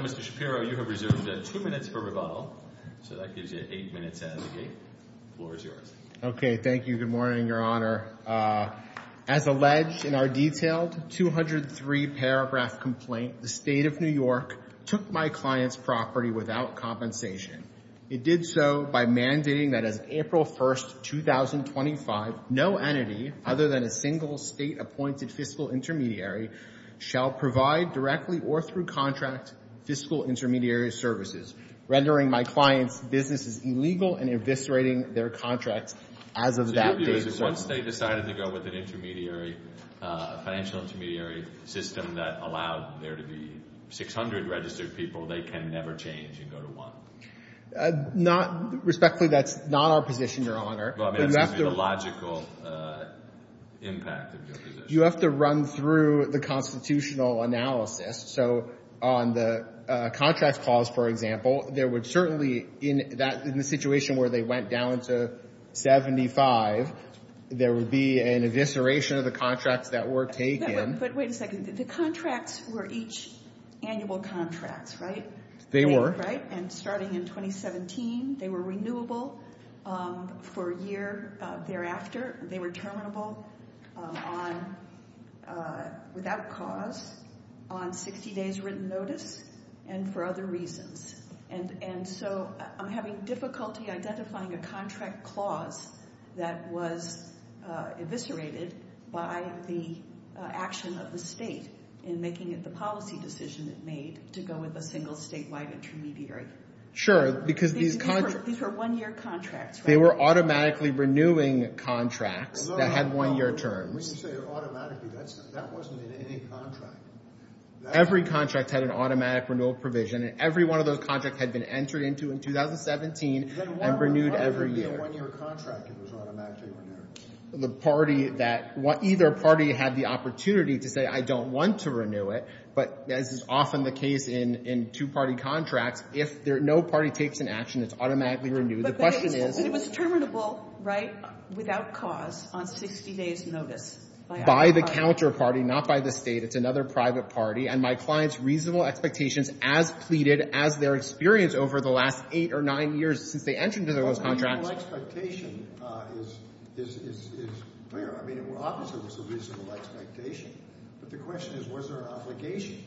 Mr. Shapiro, you have two minutes for rebuttal. So that gives you eight minutes out of the gate. The floor is yours. Okay, thank you. Good morning, Your Honor. As alleged in our detailed 203-paragraph complaint, the State of New York took my client's property without compensation. It did so by mandating that as April 1, 2025, no entity other than a single state-appointed fiscal intermediary shall provide directly or through contract fiscal intermediary services, rendering my client's businesses illegal and eviscerating their contracts as of that date. So your view is that once they decided to go with an intermediary, a financial intermediary system that allowed there to be 600 registered people, they can never change and go to one? Respectfully, that's not our position, Your Honor. Well, I mean, that seems to be the logical impact of your position. You have to run through the constitutional analysis. So on the contract clause, for example, there would certainly, in the situation where they went down to 75, there would be an evisceration of the contracts that were taken. But wait a second. The contracts were each annual contracts, right? They were. And starting in 2017, they were renewable for a year thereafter. They were terminable without cause on 60 days written notice and for other reasons. And so I'm having difficulty identifying a contract clause that was eviscerated by the action of the state in making it the policy decision it made to go with a single statewide intermediary. Sure, because these contracts. These were one-year contracts, right? They were automatically renewing contracts that had one-year terms. When you say automatically, that wasn't in any contract. Every contract had an automatic renewal provision, and every one of those contracts had been entered into in 2017 and renewed every year. Then why wouldn't it be a one-year contract if it was automatically renewed? The party that either party had the opportunity to say, I don't want to renew it. But as is often the case in two-party contracts, if no party takes an action, it's automatically renewed. But it was terminable, right, without cause on 60 days notice. By the counterparty, not by the state. It's another private party, and my client's reasonable expectations as pleaded as their experience over the last eight or nine years since they entered into those contracts. The reasonable expectation is clear. I mean, obviously, it was a reasonable expectation. But the question is, was there an obligation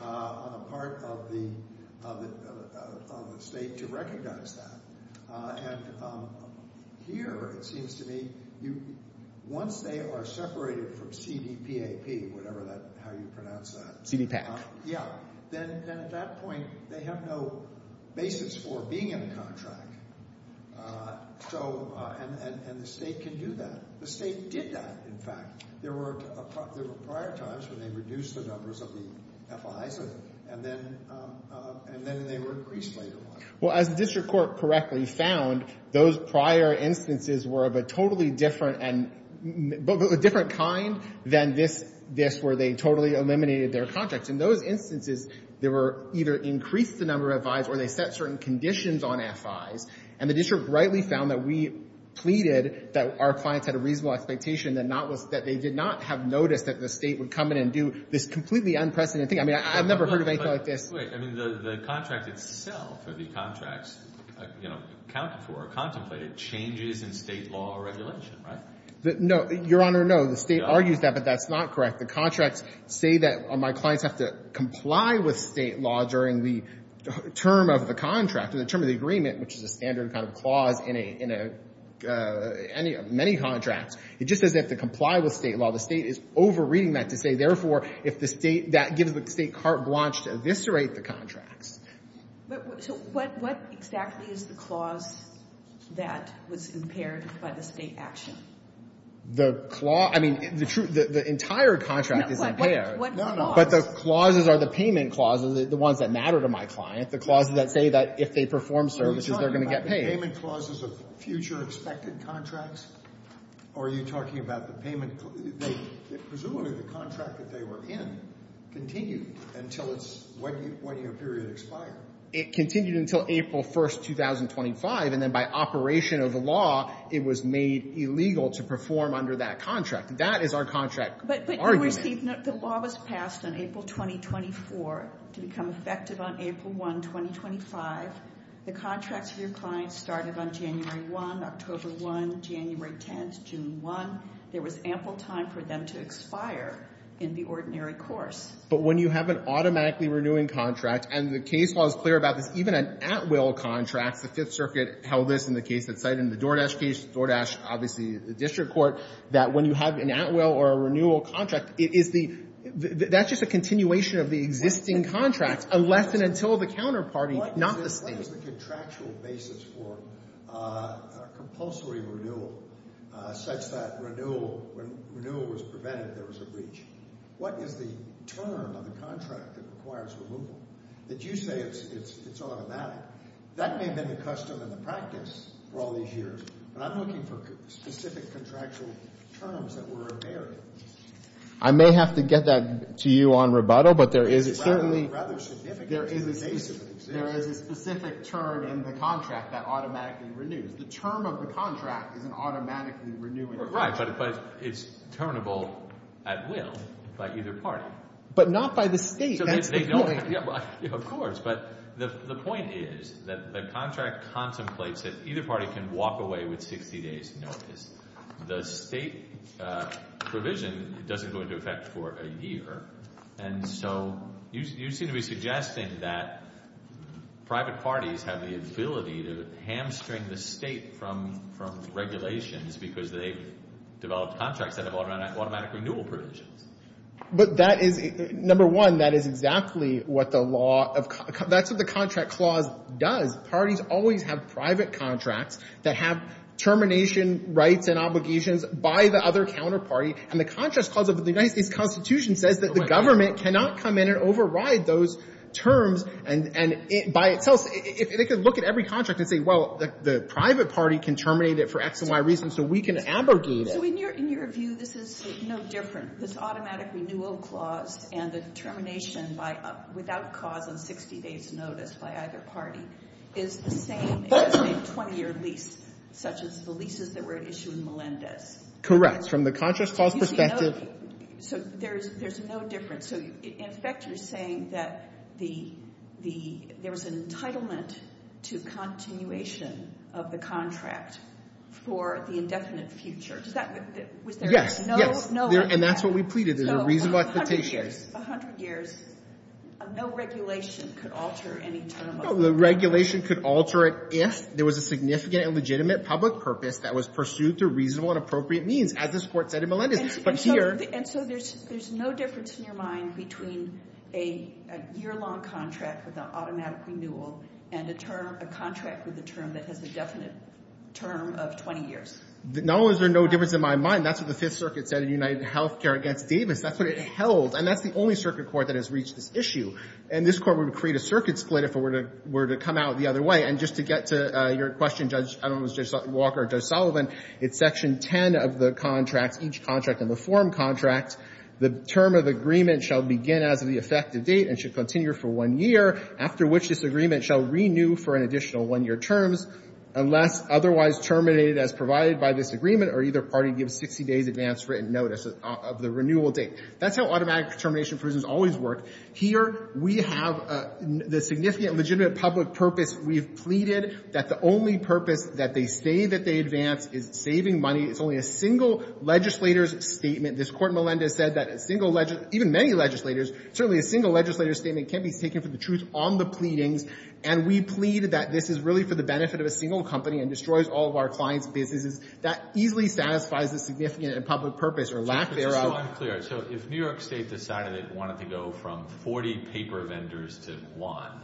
on the part of the state to recognize that? And here, it seems to me, once they are separated from CDPAP, whatever how you pronounce that. CDPAP. Yeah. Then at that point, they have no basis for being in the contract. And the state can do that. The state did that, in fact. There were prior times when they reduced the numbers of the FIs, and then they were increased later on. Well, as the district court correctly found, those prior instances were of a totally different kind than this, where they totally eliminated their contracts. In those instances, they were either increased the number of FIs or they set certain conditions on FIs. And the district rightly found that we pleaded that our clients had a reasonable expectation that they did not have noticed that the state would come in and do this completely unprecedented thing. I mean, I've never heard of anything like this. Wait. I mean, the contract itself or the contracts, you know, accounted for or contemplated changes in state law or regulation, right? No. Your Honor, no. The state argues that, but that's not correct. The contracts say that my clients have to comply with state law during the term of the contract or the term of the agreement, which is a standard kind of clause in many contracts. It just says they have to comply with state law. The state is over-reading that to say, therefore, if the state that gives the state carte blanche to eviscerate the contracts. So what exactly is the clause that was impaired by the state action? The clause? I mean, the entire contract is impaired. No, no. But the clauses are the payment clauses, the ones that matter to my client, the clauses that say that if they perform services, they're going to get paid. Are you talking about the payment clauses of future expected contracts or are you talking about the payment? Presumably the contract that they were in continued until it's – when your period expired. It continued until April 1st, 2025, and then by operation of the law, it was made illegal to perform under that contract. That is our contract argument. But you received – the law was passed on April 2024 to become effective on April 1, 2025. The contracts for your clients started on January 1, October 1, January 10, June 1. There was ample time for them to expire in the ordinary course. But when you have an automatically renewing contract, and the case law is clear about this, even an at-will contract, the Fifth Circuit held this in the case that cited in the DoorDash case, DoorDash obviously the district court, that when you have an at-will or a renewal contract, it is the – that's just a continuation of the existing contract, unless and until the counterparty, not the state. What is the contractual basis for a compulsory renewal such that renewal – when renewal was prevented, there was a breach? What is the term of the contract that requires removal? Did you say it's automatic? That may have been the custom and the practice for all these years, but I'm looking for specific contractual terms that were invariant. I may have to get that to you on rebuttal, but there is certainly – There is a specific term in the contract that automatically renews. The term of the contract is an automatically renewing contract. Right, but it's turnable at will by either party. But not by the state. Of course, but the point is that the contract contemplates that either party can walk away with 60 days' notice. The state provision doesn't go into effect for a year, and so you seem to be suggesting that private parties have the ability to hamstring the state from regulations because they've developed contracts that have automatic renewal provisions. But that is – number one, that is exactly what the law of – that's what the contract clause does. Parties always have private contracts that have termination rights and obligations by the other counterparty, and the contract clause of the United States Constitution says that the government cannot come in and override those terms by itself. They could look at every contract and say, well, the private party can terminate it for X and Y reasons, so we can abrogate it. So in your view, this is no different. This automatic renewal clause and the termination without cause on 60 days' notice by either party is the same in a 20-year lease, such as the leases that were issued in Melendez. Correct. From the contract clause perspective. So there's no difference. So, in effect, you're saying that the – there was an entitlement to continuation of the contract for the indefinite future. Does that – was there no – Yes, yes. And that's what we pleaded. There's a reasonable expectation. A hundred years. A hundred years. No regulation could alter any term of the contract. No regulation could alter it if there was a significant and legitimate public purpose that was pursued through reasonable and appropriate means, as this Court said in Melendez. But here – And so there's no difference in your mind between a year-long contract with an automatic renewal and a term – a contract with a term that has a definite term of 20 years? Not only is there no difference in my mind, that's what the Fifth Circuit said in UnitedHealthcare against Davis. That's what it held. And that's the only circuit court that has reached this issue. And this Court would create a circuit split if it were to come out the other way. And just to get to your question, Judge – Judge Walker or Judge Sullivan, it's Section 10 of the contract, each contract in the forum contract, the term of agreement shall begin as of the effective date and should continue for one year, after which this agreement shall renew for an additional one-year terms unless otherwise terminated as provided by this agreement or either party gives 60 days advance written notice of the renewal date. That's how automatic termination prisms always work. Here we have the significant legitimate public purpose. We've pleaded that the only purpose that they say that they advance is saving money. It's only a single legislator's statement. This Court in Melendez said that a single – even many legislators – certainly a single legislator's statement can't be taken for the truth on the pleadings. And we plead that this is really for the benefit of a single company and destroys all of our clients' businesses. That easily satisfies the significant public purpose or lack thereof. So if New York State decided it wanted to go from 40 paper vendors to one,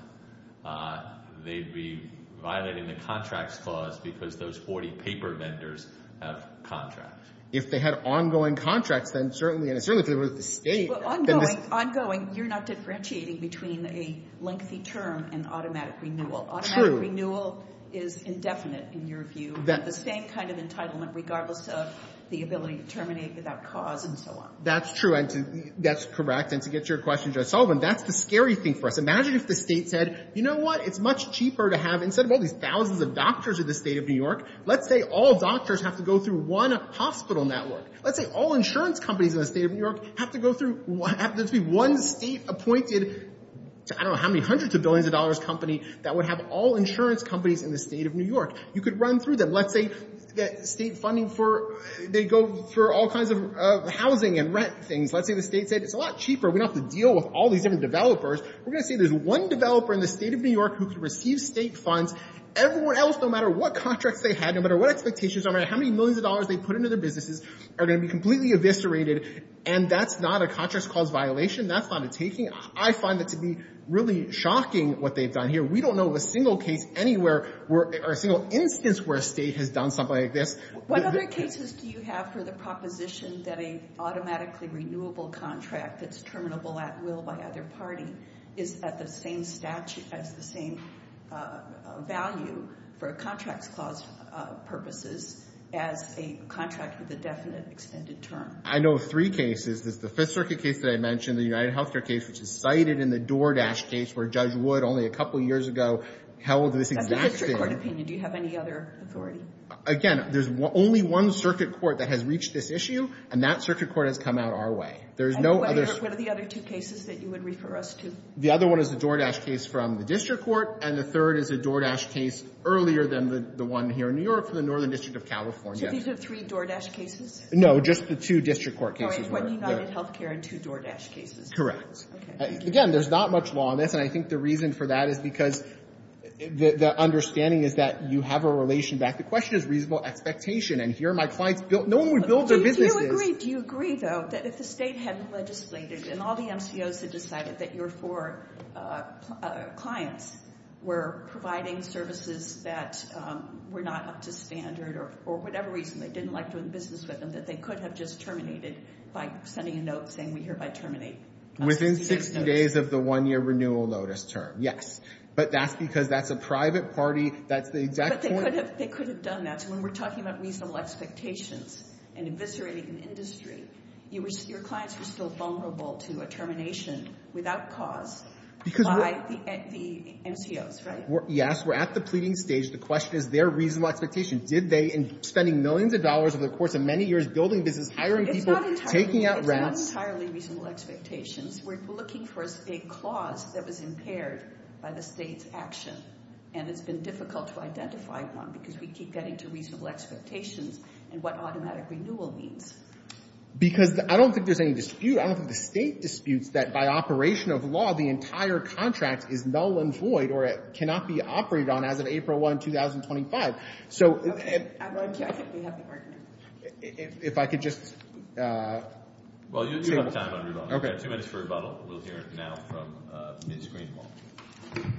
they'd be violating the contracts clause because those 40 paper vendors have contracts. If they had ongoing contracts, then certainly – and certainly if it was the State. Well, ongoing – ongoing, you're not differentiating between a lengthy term and automatic renewal. True. Automatic renewal is indefinite in your view. The same kind of entitlement regardless of the ability to terminate without cause and so on. That's true. And to – that's correct. And to get to your question, Judge Sullivan, that's the scary thing for us. Imagine if the State said, you know what, it's much cheaper to have – instead of all these thousands of doctors in the State of New York, let's say all doctors have to go through one hospital network. Let's say all insurance companies in the State of New York have to go through – have to be one State-appointed – I don't know how many hundreds of billions of dollars company that would have all insurance companies in the State of New York. You could run through them. Let's say that State funding for – they go through all kinds of housing and rent things. Let's say the State said, it's a lot cheaper. We don't have to deal with all these different developers. We're going to say there's one developer in the State of New York who can receive State funds. Everyone else, no matter what contracts they had, no matter what expectations, no matter how many millions of dollars they put into their businesses, are going to be completely eviscerated. And that's not a contracts cause violation. That's not a taking. I find that to be really shocking what they've done here. We don't know of a single case anywhere where – or a single instance where a State has done something like this. What other cases do you have for the proposition that an automatically renewable contract that's terminable at will by either party is at the same value for a contracts cause purposes as a contract with a definite extended term? I know of three cases. There's the Fifth Circuit case that I mentioned, the UnitedHealthcare case, which is cited in the DoorDash case where Judge Wood only a couple years ago held this exact thing. That's a district court opinion. Do you have any other authority? Again, there's only one circuit court that has reached this issue, and that circuit court has come out our way. And what are the other two cases that you would refer us to? The other one is the DoorDash case from the district court, and the third is a DoorDash case earlier than the one here in New York from the Northern District of California. So these are three DoorDash cases? No, just the two district court cases. Oh, it's one UnitedHealthcare and two DoorDash cases. Correct. Okay. Again, there's not much law on this, and I think the reason for that is because the understanding is that you have a relation back. The question is reasonable expectation. And here are my clients. No one would build their businesses – Do you agree, though, that if the state hadn't legislated and all the MCOs had decided that your four clients were providing services that were not up to standard or for whatever reason they didn't like doing business with them, that they could have just terminated by sending a note saying we hereby terminate. Within 60 days of the one-year renewal notice term, yes. But that's because that's a private party. That's the exact point – But they could have done that. When we're talking about reasonable expectations and eviscerating an industry, your clients were still vulnerable to a termination without cause by the MCOs, right? Yes. We're at the pleading stage. The question is their reasonable expectation. Did they, spending millions of dollars over the course of many years building businesses, hiring people, taking out rents – It's not entirely reasonable expectations. We're looking for a clause that was impaired by the state's action, and it's been difficult to identify one because we keep getting to reasonable expectations and what automatic renewal means. Because I don't think there's any dispute. I don't think the state disputes that by operation of law the entire contract is null and void or it cannot be operated on as of April 1, 2025. I think we have the argument. If I could just – Well, you have time on rebuttal. We have two minutes for rebuttal. We'll hear it now from Ms. Greenwald. Ms. Greenwald.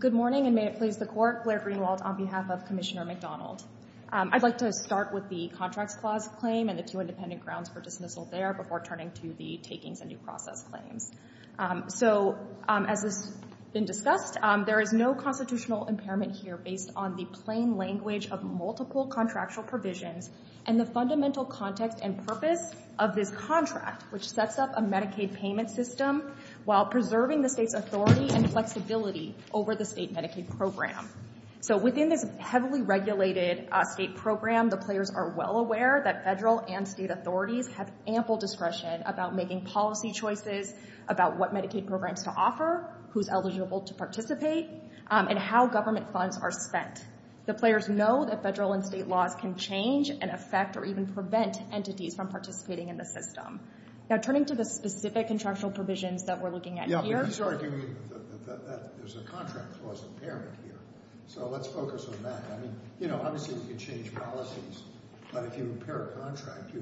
Good morning, and may it please the Court. Blair Greenwald on behalf of Commissioner McDonald. I'd like to start with the contracts clause claim and the two independent grounds for dismissal there before turning to the takings and due process claims. So as has been discussed, there is no constitutional impairment here based on the plain language of multiple contractual provisions and the fundamental context and purpose of this contract, which sets up a Medicaid payment system while preserving the state's authority and flexibility over the state Medicaid program. So within this heavily regulated state program, the players are well aware that federal and state authorities have ample discretion about making policy choices about what Medicaid programs to offer, who's eligible to participate, and how government funds are spent. The players know that federal and state laws can change and affect or even prevent entities from participating in the system. Now, turning to the specific contractual provisions that we're looking at here. Yeah, but he's arguing that there's a contract clause impairment here. So let's focus on that. I mean, you know, obviously we can change policies, but if you impair a contract,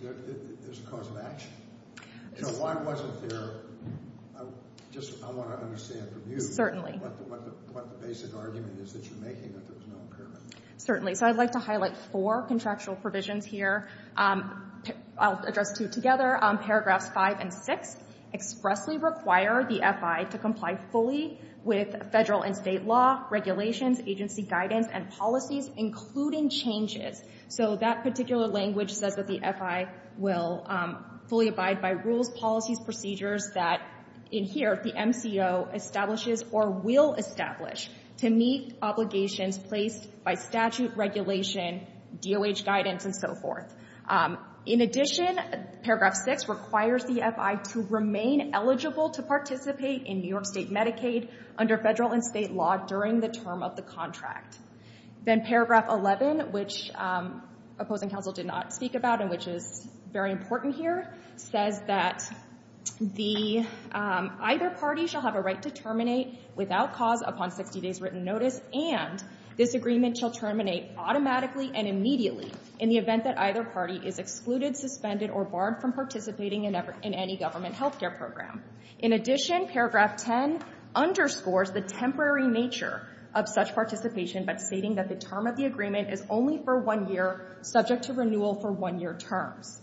there's a cause of action. So why wasn't there, just I want to understand from you, what the basic argument is that you're making that there was no impairment. Certainly. So I'd like to highlight four contractual provisions here. I'll address two together. Paragraphs 5 and 6 expressly require the FI to comply fully with federal and state law, regulations, agency guidance, and policies, including changes. So that particular language says that the FI will fully abide by rules, policies, procedures that, in here, the MCO establishes or will establish to meet obligations placed by statute, regulation, DOH guidance, and so forth. In addition, paragraph 6 requires the FI to remain eligible to participate in New York State Medicaid under federal and state law during the term of the contract. Then paragraph 11, which opposing counsel did not speak about and which is very important here, says that either party shall have a right to terminate without cause upon 60 days written notice, and this agreement shall terminate automatically and immediately in the event that either party is excluded, suspended, or barred from participating in any government health care program. In addition, paragraph 10 underscores the temporary nature of such participation by stating that the term of the agreement is only for one year, subject to renewal for one-year terms.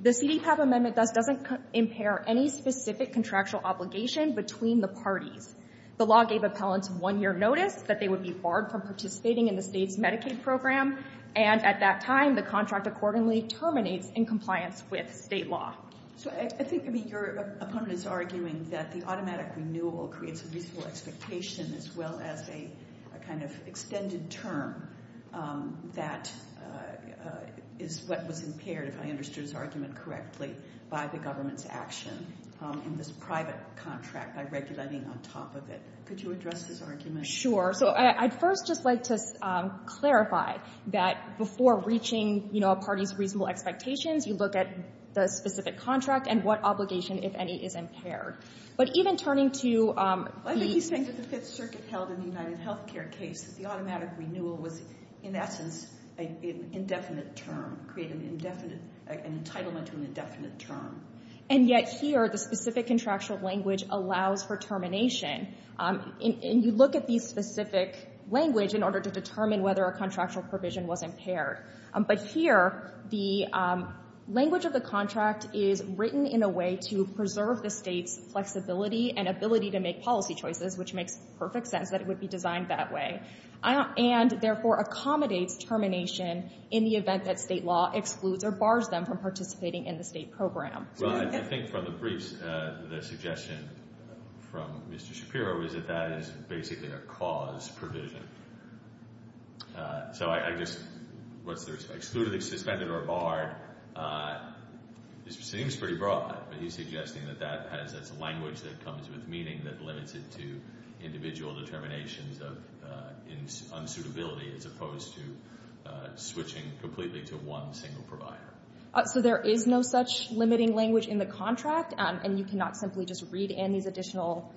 The CDPAP amendment doesn't impair any specific contractual obligation between the parties. The law gave appellants one-year notice that they would be barred from participating in the State's Medicaid program, and at that time, the contract accordingly terminates in compliance with State law. So I think your opponent is arguing that the automatic renewal creates a reasonable expectation as well as a kind of extended term that is what was impaired, if I understood his argument correctly, by the government's action in this private contract by regulating on top of it. Could you address his argument? Sure. So I'd first just like to clarify that before reaching a party's reasonable expectations, you look at the specific contract and what obligation, if any, is impaired. But even turning to the... I think he's saying that the Fifth Circuit held in the UnitedHealthcare case that the automatic renewal was, in essence, an indefinite term, created an entitlement to an indefinite term. And yet here, the specific contractual language allows for termination. And you look at the specific language in order to determine whether a contractual provision was impaired. But here, the language of the contract is written in a way to preserve the State's flexibility and ability to make policy choices, which makes perfect sense that it would be designed that way, and therefore accommodates termination in the event that State law excludes or bars them from participating in the State program. Well, I think from the briefs, the suggestion from Mr. Shapiro is that that is basically a cause provision. So I just... Excluded, suspended, or barred seems pretty broad. But he's suggesting that that's a language that comes with meaning that limits it to individual determinations of unsuitability as opposed to switching completely to one single provider. So there is no such limiting language in the contract, and you cannot simply just read in these additional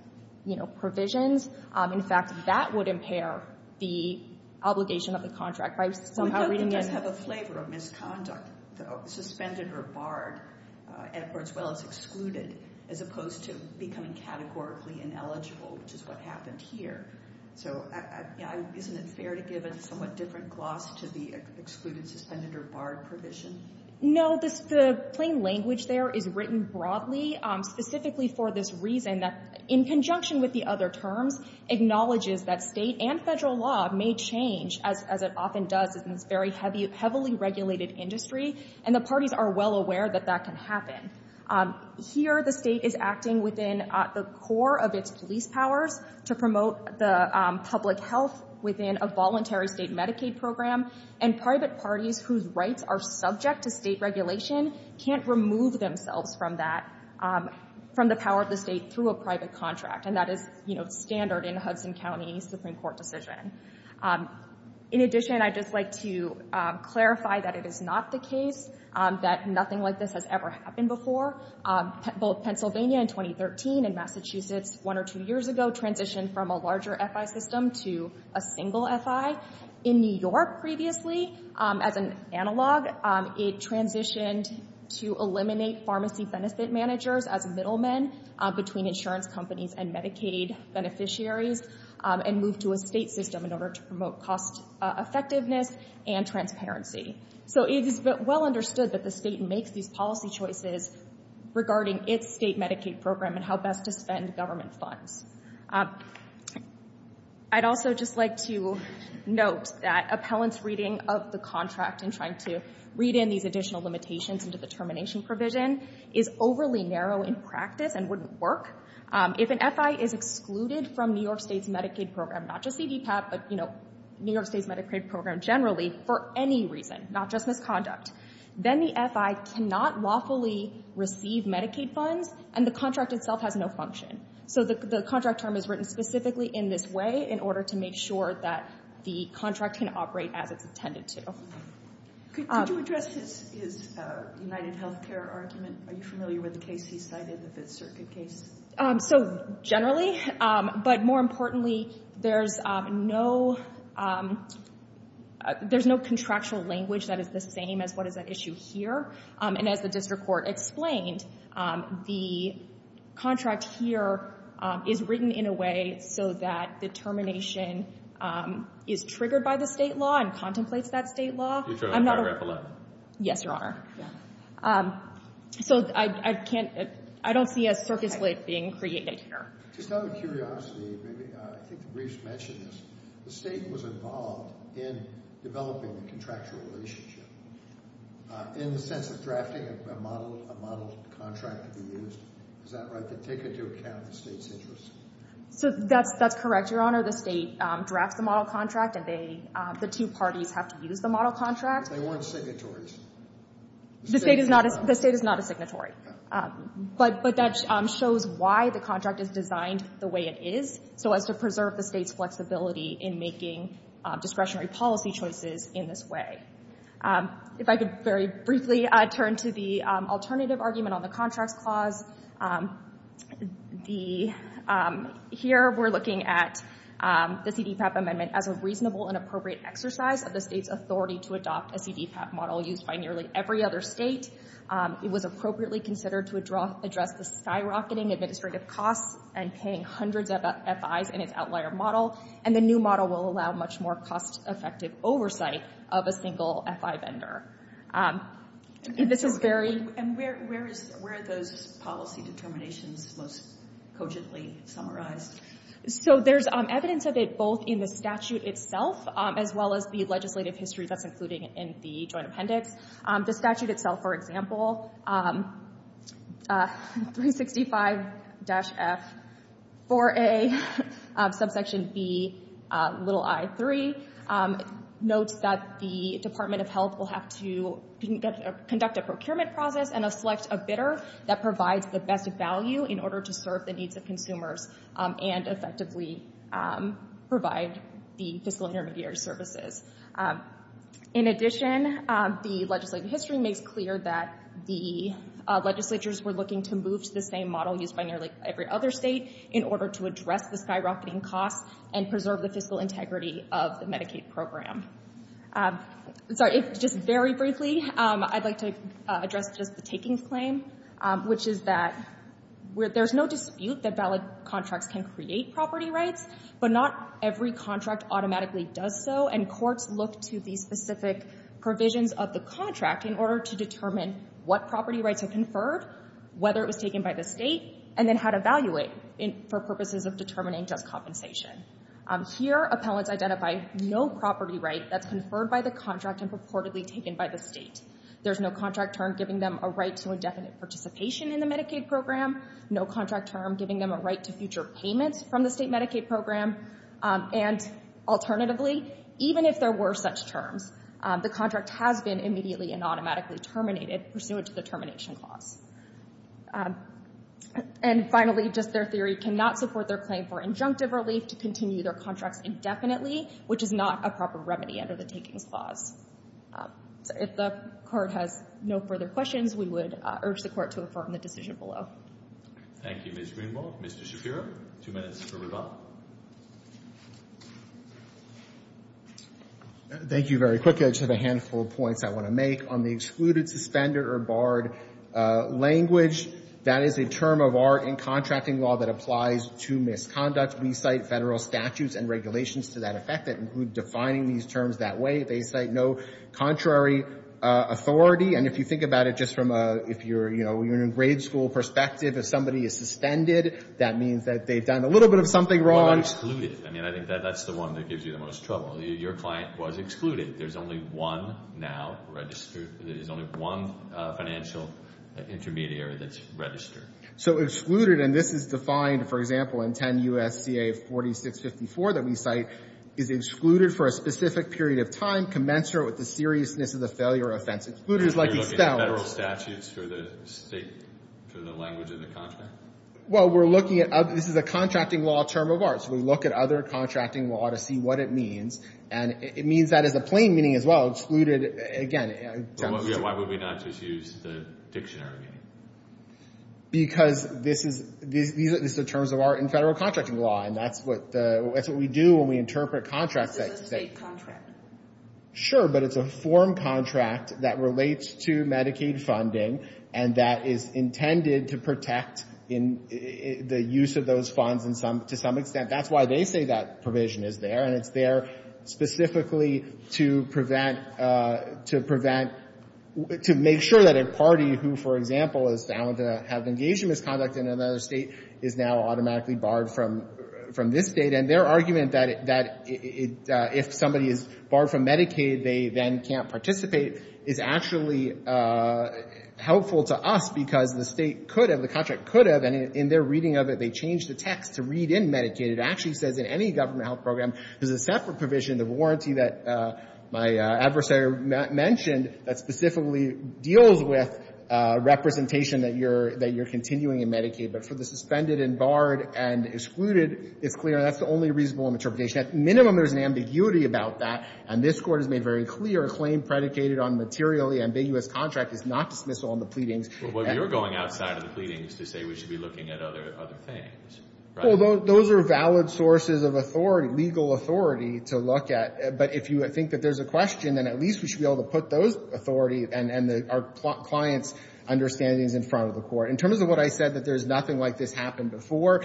provisions. In fact, that would impair the obligation of the contract. By somehow reading this... It does have a flavor of misconduct, suspended or barred, as well as excluded, as opposed to becoming categorically ineligible, which is what happened here. So isn't it fair to give a somewhat different gloss to the excluded, suspended, or barred provision? No, the plain language there is written broadly, specifically for this reason that, in conjunction with the other terms, acknowledges that state and federal law may change, as it often does in this very heavily regulated industry, and the parties are well aware that that can happen. Here, the state is acting within the core of its police powers to promote the public health within a voluntary state Medicaid program, and private parties whose rights are subject to state regulation can't remove themselves from the power of the state through a private contract, and that is standard in a Hudson County Supreme Court decision. In addition, I'd just like to clarify that it is not the case, that nothing like this has ever happened before. Both Pennsylvania in 2013 and Massachusetts one or two years ago transitioned from a larger FI system to a single FI. In New York previously, as an analog, it transitioned to eliminate pharmacy benefit managers as middlemen between insurance companies and Medicaid beneficiaries, and moved to a state system in order to promote cost effectiveness and transparency. So it is well understood that the state makes these policy choices regarding its state Medicaid program and how best to spend government funds. I'd also just like to note that appellant's reading of the contract and trying to read in these additional limitations into the termination provision is overly narrow in practice and wouldn't work. If an FI is excluded from New York State's Medicaid program, not just CDPAT, but New York State's Medicaid program generally, for any reason, not just misconduct, then the FI cannot lawfully receive Medicaid funds, and the contract itself has no function. So the contract term is written specifically in this way in order to make sure that the contract can operate as it's intended to. Could you address his UnitedHealthcare argument? Are you familiar with the case he cited, the Fifth Circuit case? So generally, but more importantly, there's no contractual language that is the same as what is at issue here. And as the district court explained, the contract here is written in a way so that the termination is triggered by the state law and contemplates that state law. Yes, Your Honor. So I don't see a circuit slate being created here. Just out of curiosity, I think the briefs mentioned this. The state was involved in developing the contractual relationship in the sense of drafting a model contract to be used. Is that right, to take into account the state's interests? So that's correct, Your Honor. The state drafts the model contract, and the two parties have to use the model contract. But they weren't signatories. The state is not a signatory. But that shows why the contract is designed the way it is, so as to preserve the state's flexibility in making discretionary policy choices in this way. If I could very briefly turn to the alternative argument on the contracts clause. Here we're looking at the CDPAP amendment as a reasonable and appropriate exercise of the state's authority to adopt a CDPAP model used by nearly every other state. It was appropriately considered to address the skyrocketing administrative costs and paying hundreds of FIs in its outlier model. And the new model will allow much more cost-effective oversight of a single FI vendor. This is very... And where are those policy determinations most cogently summarized? So there's evidence of it both in the statute itself as well as the legislative history that's included in the joint appendix. The statute itself, for example, 365-F4A subsection B i3, notes that the Department of Health will have to conduct a procurement process and select a bidder that provides the best value in order to serve the needs of consumers and effectively provide the fiscal intermediary services. In addition, the legislative history makes clear that the legislatures were looking to move to the same model used by nearly every other state in order to address the skyrocketing costs and preserve the fiscal integrity of the Medicaid program. Sorry, just very briefly, I'd like to address just the takings claim, which is that there's no dispute that valid contracts can create property rights, but not every contract automatically does so, and courts look to the specific provisions of the contract in order to determine what property rights are conferred, whether it was taken by the state, and then how to value it for purposes of determining just compensation. Here, appellants identify no property right that's conferred by the contract and purportedly taken by the state. There's no contract term giving them a right to indefinite participation in the Medicaid program, no contract term giving them a right to future payments from the state Medicaid program, and alternatively, even if there were such terms, the contract has been immediately and automatically terminated pursuant to the termination clause. And finally, just their theory, cannot support their claim for injunctive relief to continue their contracts indefinitely, which is not a proper remedy under the takings clause. If the Court has no further questions, we would urge the Court to affirm the decision below. Thank you, Ms. Greenbaugh. Mr. Shapiro, two minutes for rebuttal. Thank you very quickly. I just have a handful of points I want to make. On the excluded, suspended, or barred language, that is a term of art in contracting law that applies to misconduct. We cite Federal statutes and regulations to that effect that include defining these terms that way. They cite no contrary authority. And if you think about it just from a, if you're, you know, you're in a grade school perspective, if somebody is suspended, that means that they've done a little bit of something wrong. Well, not excluded. I mean, I think that's the one that gives you the most trouble. Your client was excluded. There's only one now registered, there's only one financial intermediary that's registered. So excluded, and this is defined, for example, in 10 U.S.C.A. 4654 that we cite, is excluded for a specific period of time, commensurate with the seriousness of the failure or offense. Excluded is like a spell. Are you looking at Federal statutes for the state, for the language of the contract? Well, we're looking at, this is a contracting law term of arts. We look at other contracting law to see what it means. And it means that as a plain meaning as well, excluded, again. Why would we not just use the dictionary? Because this is, these are the terms of art in Federal contracting law. And that's what, that's what we do when we interpret contracts. This is a state contract. Sure, but it's a form contract that relates to Medicaid funding and that is intended to protect the use of those funds to some extent. That's why they say that provision is there. And it's there specifically to prevent, to prevent, to make sure that a party who, for example, is found to have engaged in misconduct in another state is now automatically barred from this state. And their argument that if somebody is barred from Medicaid, they then can't participate is actually helpful to us because the state could have, the contract could have, and in their reading of it, they changed the text to read in Medicaid. It actually says in any government health program, there's a separate provision, the warranty that my adversary mentioned, that specifically deals with representation that you're, that you're continuing in Medicaid. But for the suspended and barred and excluded, it's clear that's the only reasonable interpretation. At minimum, there's an ambiguity about that. And this Court has made very clear, a claim predicated on materially ambiguous contract is not dismissal on the pleadings. But you're going outside of the pleadings to say we should be looking at other things, right? Well, those are valid sources of authority, legal authority to look at. But if you think that there's a question, then at least we should be able to put those authorities and our clients' understandings in front of the Court. In terms of what I said, that there's nothing like this happened before,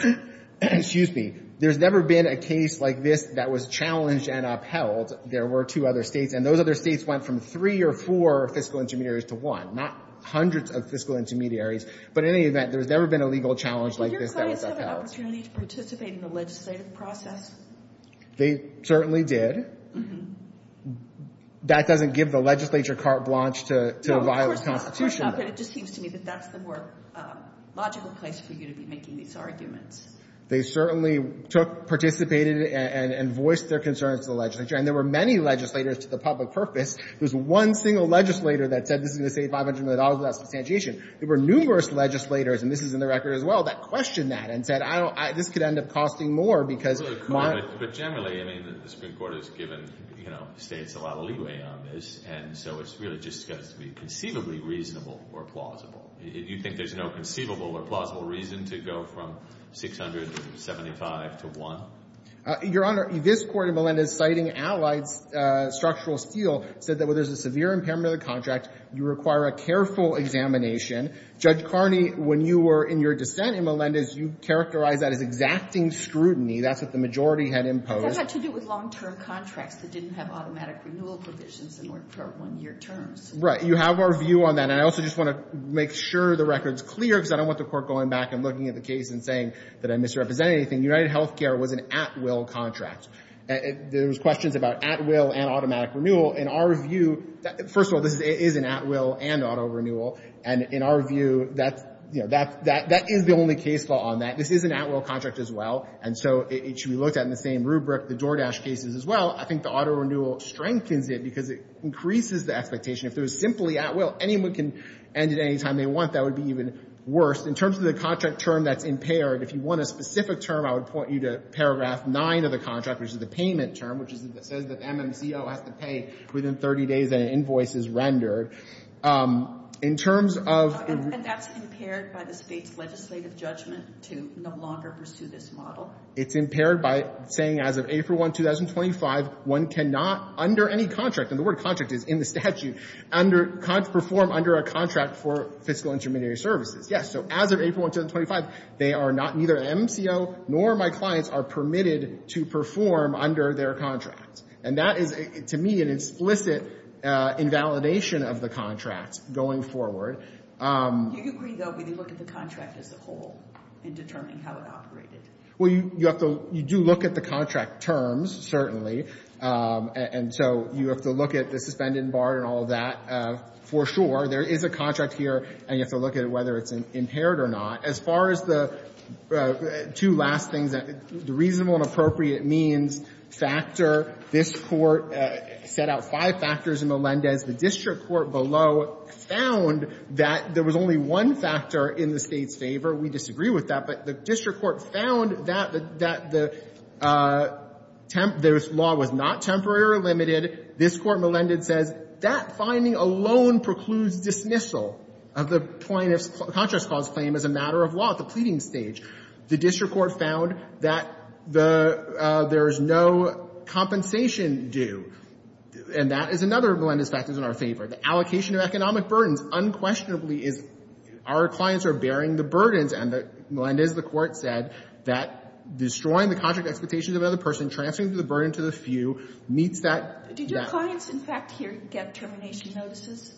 excuse me, there's never been a case like this that was challenged and upheld. There were two other states, and those other states went from three or four fiscal intermediaries to one, not hundreds of fiscal intermediaries. But in any event, there's never been a legal challenge like this that was upheld. Did your clients have an opportunity to participate in the legislative process? They certainly did. That doesn't give the legislature carte blanche to violate the Constitution. No, of course not. But it just seems to me that that's the more logical place for you to be making these arguments. They certainly took, participated, and voiced their concerns to the legislature. And there were many legislators to the public purpose. There was one single legislator that said this is going to save $500 million without substantiation. There were numerous legislators, and this is in the record as well, that questioned that and said, I don't – this could end up costing more because my – But generally, I mean, the Supreme Court has given, you know, States a lot of leeway on this. And so it's really just got to be conceivably reasonable or plausible. You think there's no conceivable or plausible reason to go from 675 to 1? Your Honor, this Court in Melendez citing allied structural steel said that where there's a severe impairment of the contract, you require a careful examination. Judge Carney, when you were in your dissent in Melendez, you characterized that as exacting scrutiny. That's what the majority had imposed. That had to do with long-term contracts that didn't have automatic renewal provisions and worked for one-year terms. Right. You have our view on that. And I also just want to make sure the record's clear because I don't want the Court going back and looking at the case and saying that I misrepresented anything. UnitedHealthcare was an at-will contract. There was questions about at-will and automatic renewal. In our view – first of all, this is an at-will and auto renewal. And in our view, that's – you know, that is the only case law on that. This is an at-will contract as well. And so it should be looked at in the same rubric, the DoorDash cases as well. I think the auto renewal strengthens it because it increases the expectation. If it was simply at-will, anyone can end it any time they want. That would be even worse. In terms of the contract term that's impaired, if you want a specific term, I would point you to paragraph 9 of the contract, which is the payment term, which says that MMCO has to pay within 30 days that an invoice is rendered. In terms of – And that's impaired by the State's legislative judgment to no longer pursue this model? It's impaired by saying as of April 1, 2025, one cannot under any contract – and the word contract is in the statute – perform under a contract for fiscal intermediary services. Yes. So as of April 1, 2025, they are not – neither the MCO nor my clients are permitted to perform under their contract. And that is, to me, an explicit invalidation of the contract going forward. Do you agree, though, when you look at the contract as a whole in determining how it operated? Well, you have to – you do look at the contract terms, certainly. And so you have to look at the suspended and barred and all of that, for sure. There is a contract here, and you have to look at whether it's impaired or not. As far as the two last things, the reasonable and appropriate means factor, this Court set out five factors in Melendez. The district court below found that there was only one factor in the State's favor. We disagree with that. But the district court found that the law was not temporary or limited. This Court, Melendez says, that finding alone precludes dismissal of the plaintiff's contract clause claim as a matter of law at the pleading stage. The district court found that there is no compensation due. And that is another of Melendez's factors in our favor. The allocation of economic burdens unquestionably is – our clients are bearing the burdens, and Melendez, the Court said, that destroying the contract expectations of another person, transferring the burden to the few, meets that – Did your clients, in fact, here get termination notices?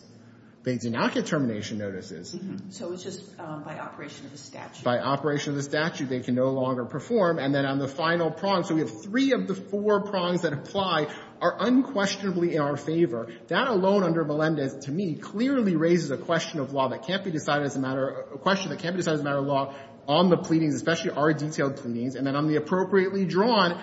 They did not get termination notices. So it was just by operation of the statute. By operation of the statute. They can no longer perform. And then on the final prong, so we have three of the four prongs that apply are unquestionably in our favor. That alone under Melendez, to me, clearly raises a question of law that can't be decided as a matter – a question that can't be decided as a matter of law on the pleadings, especially our detailed pleadings. And then on the appropriately drawn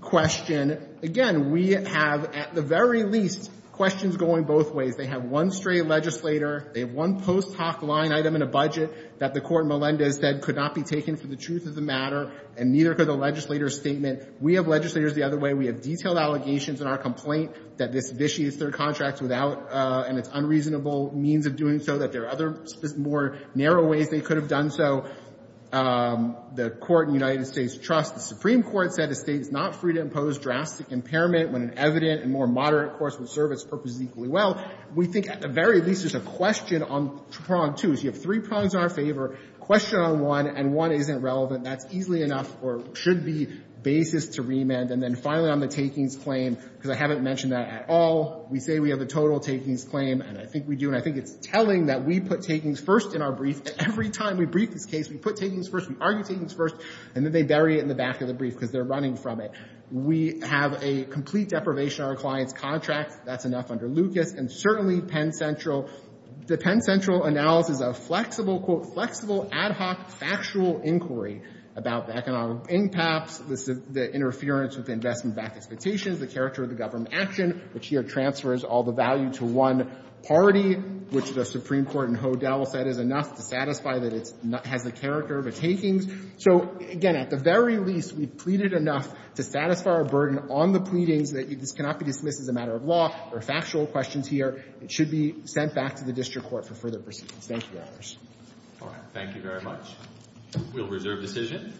question, again, we have at the very least questions going both ways. They have one stray legislator, they have one post hoc line item in a budget that the Court in Melendez said could not be taken for the truth of the matter, and neither could the legislator's statement. We have legislators the other way. We have detailed allegations in our complaint that this vitiates their contract without – and it's unreasonable means of doing so, that there are other more narrow ways they could have done so. The Court in the United States trusts the Supreme Court said the State is not free to impose drastic impairment when an evident and more moderate course of service purposes equally well. We think at the very least there's a question on prong two. So you have three prongs in our favor, question on one, and one isn't relevant. That's easily enough or should be basis to remand. And then finally on the takings claim, because I haven't mentioned that at all, we say we have a total takings claim, and I think we do, and I think it's telling that we put takings first in our brief. Every time we brief this case, we put takings first, we argue takings first, and then they bury it in the back of the brief because they're running from it. We have a complete deprivation of our client's contract. That's enough under Lucas. And certainly Penn Central, the Penn Central analysis of flexible, quote, flexible, ad hoc factual inquiry about the economic impacts, the interference with investment backed expectations, the character of the government action, which here transfers all the value to one party, which the Supreme Court in Hodel said is enough to satisfy that it has the character of a takings. So, again, at the very least, we've pleaded enough to satisfy our burden on the pleadings that this cannot be dismissed as a matter of law. There are factual questions here. It should be sent back to the district court for further proceedings. Thank you, Your Honors. All right. Thank you very much. We'll reserve decision.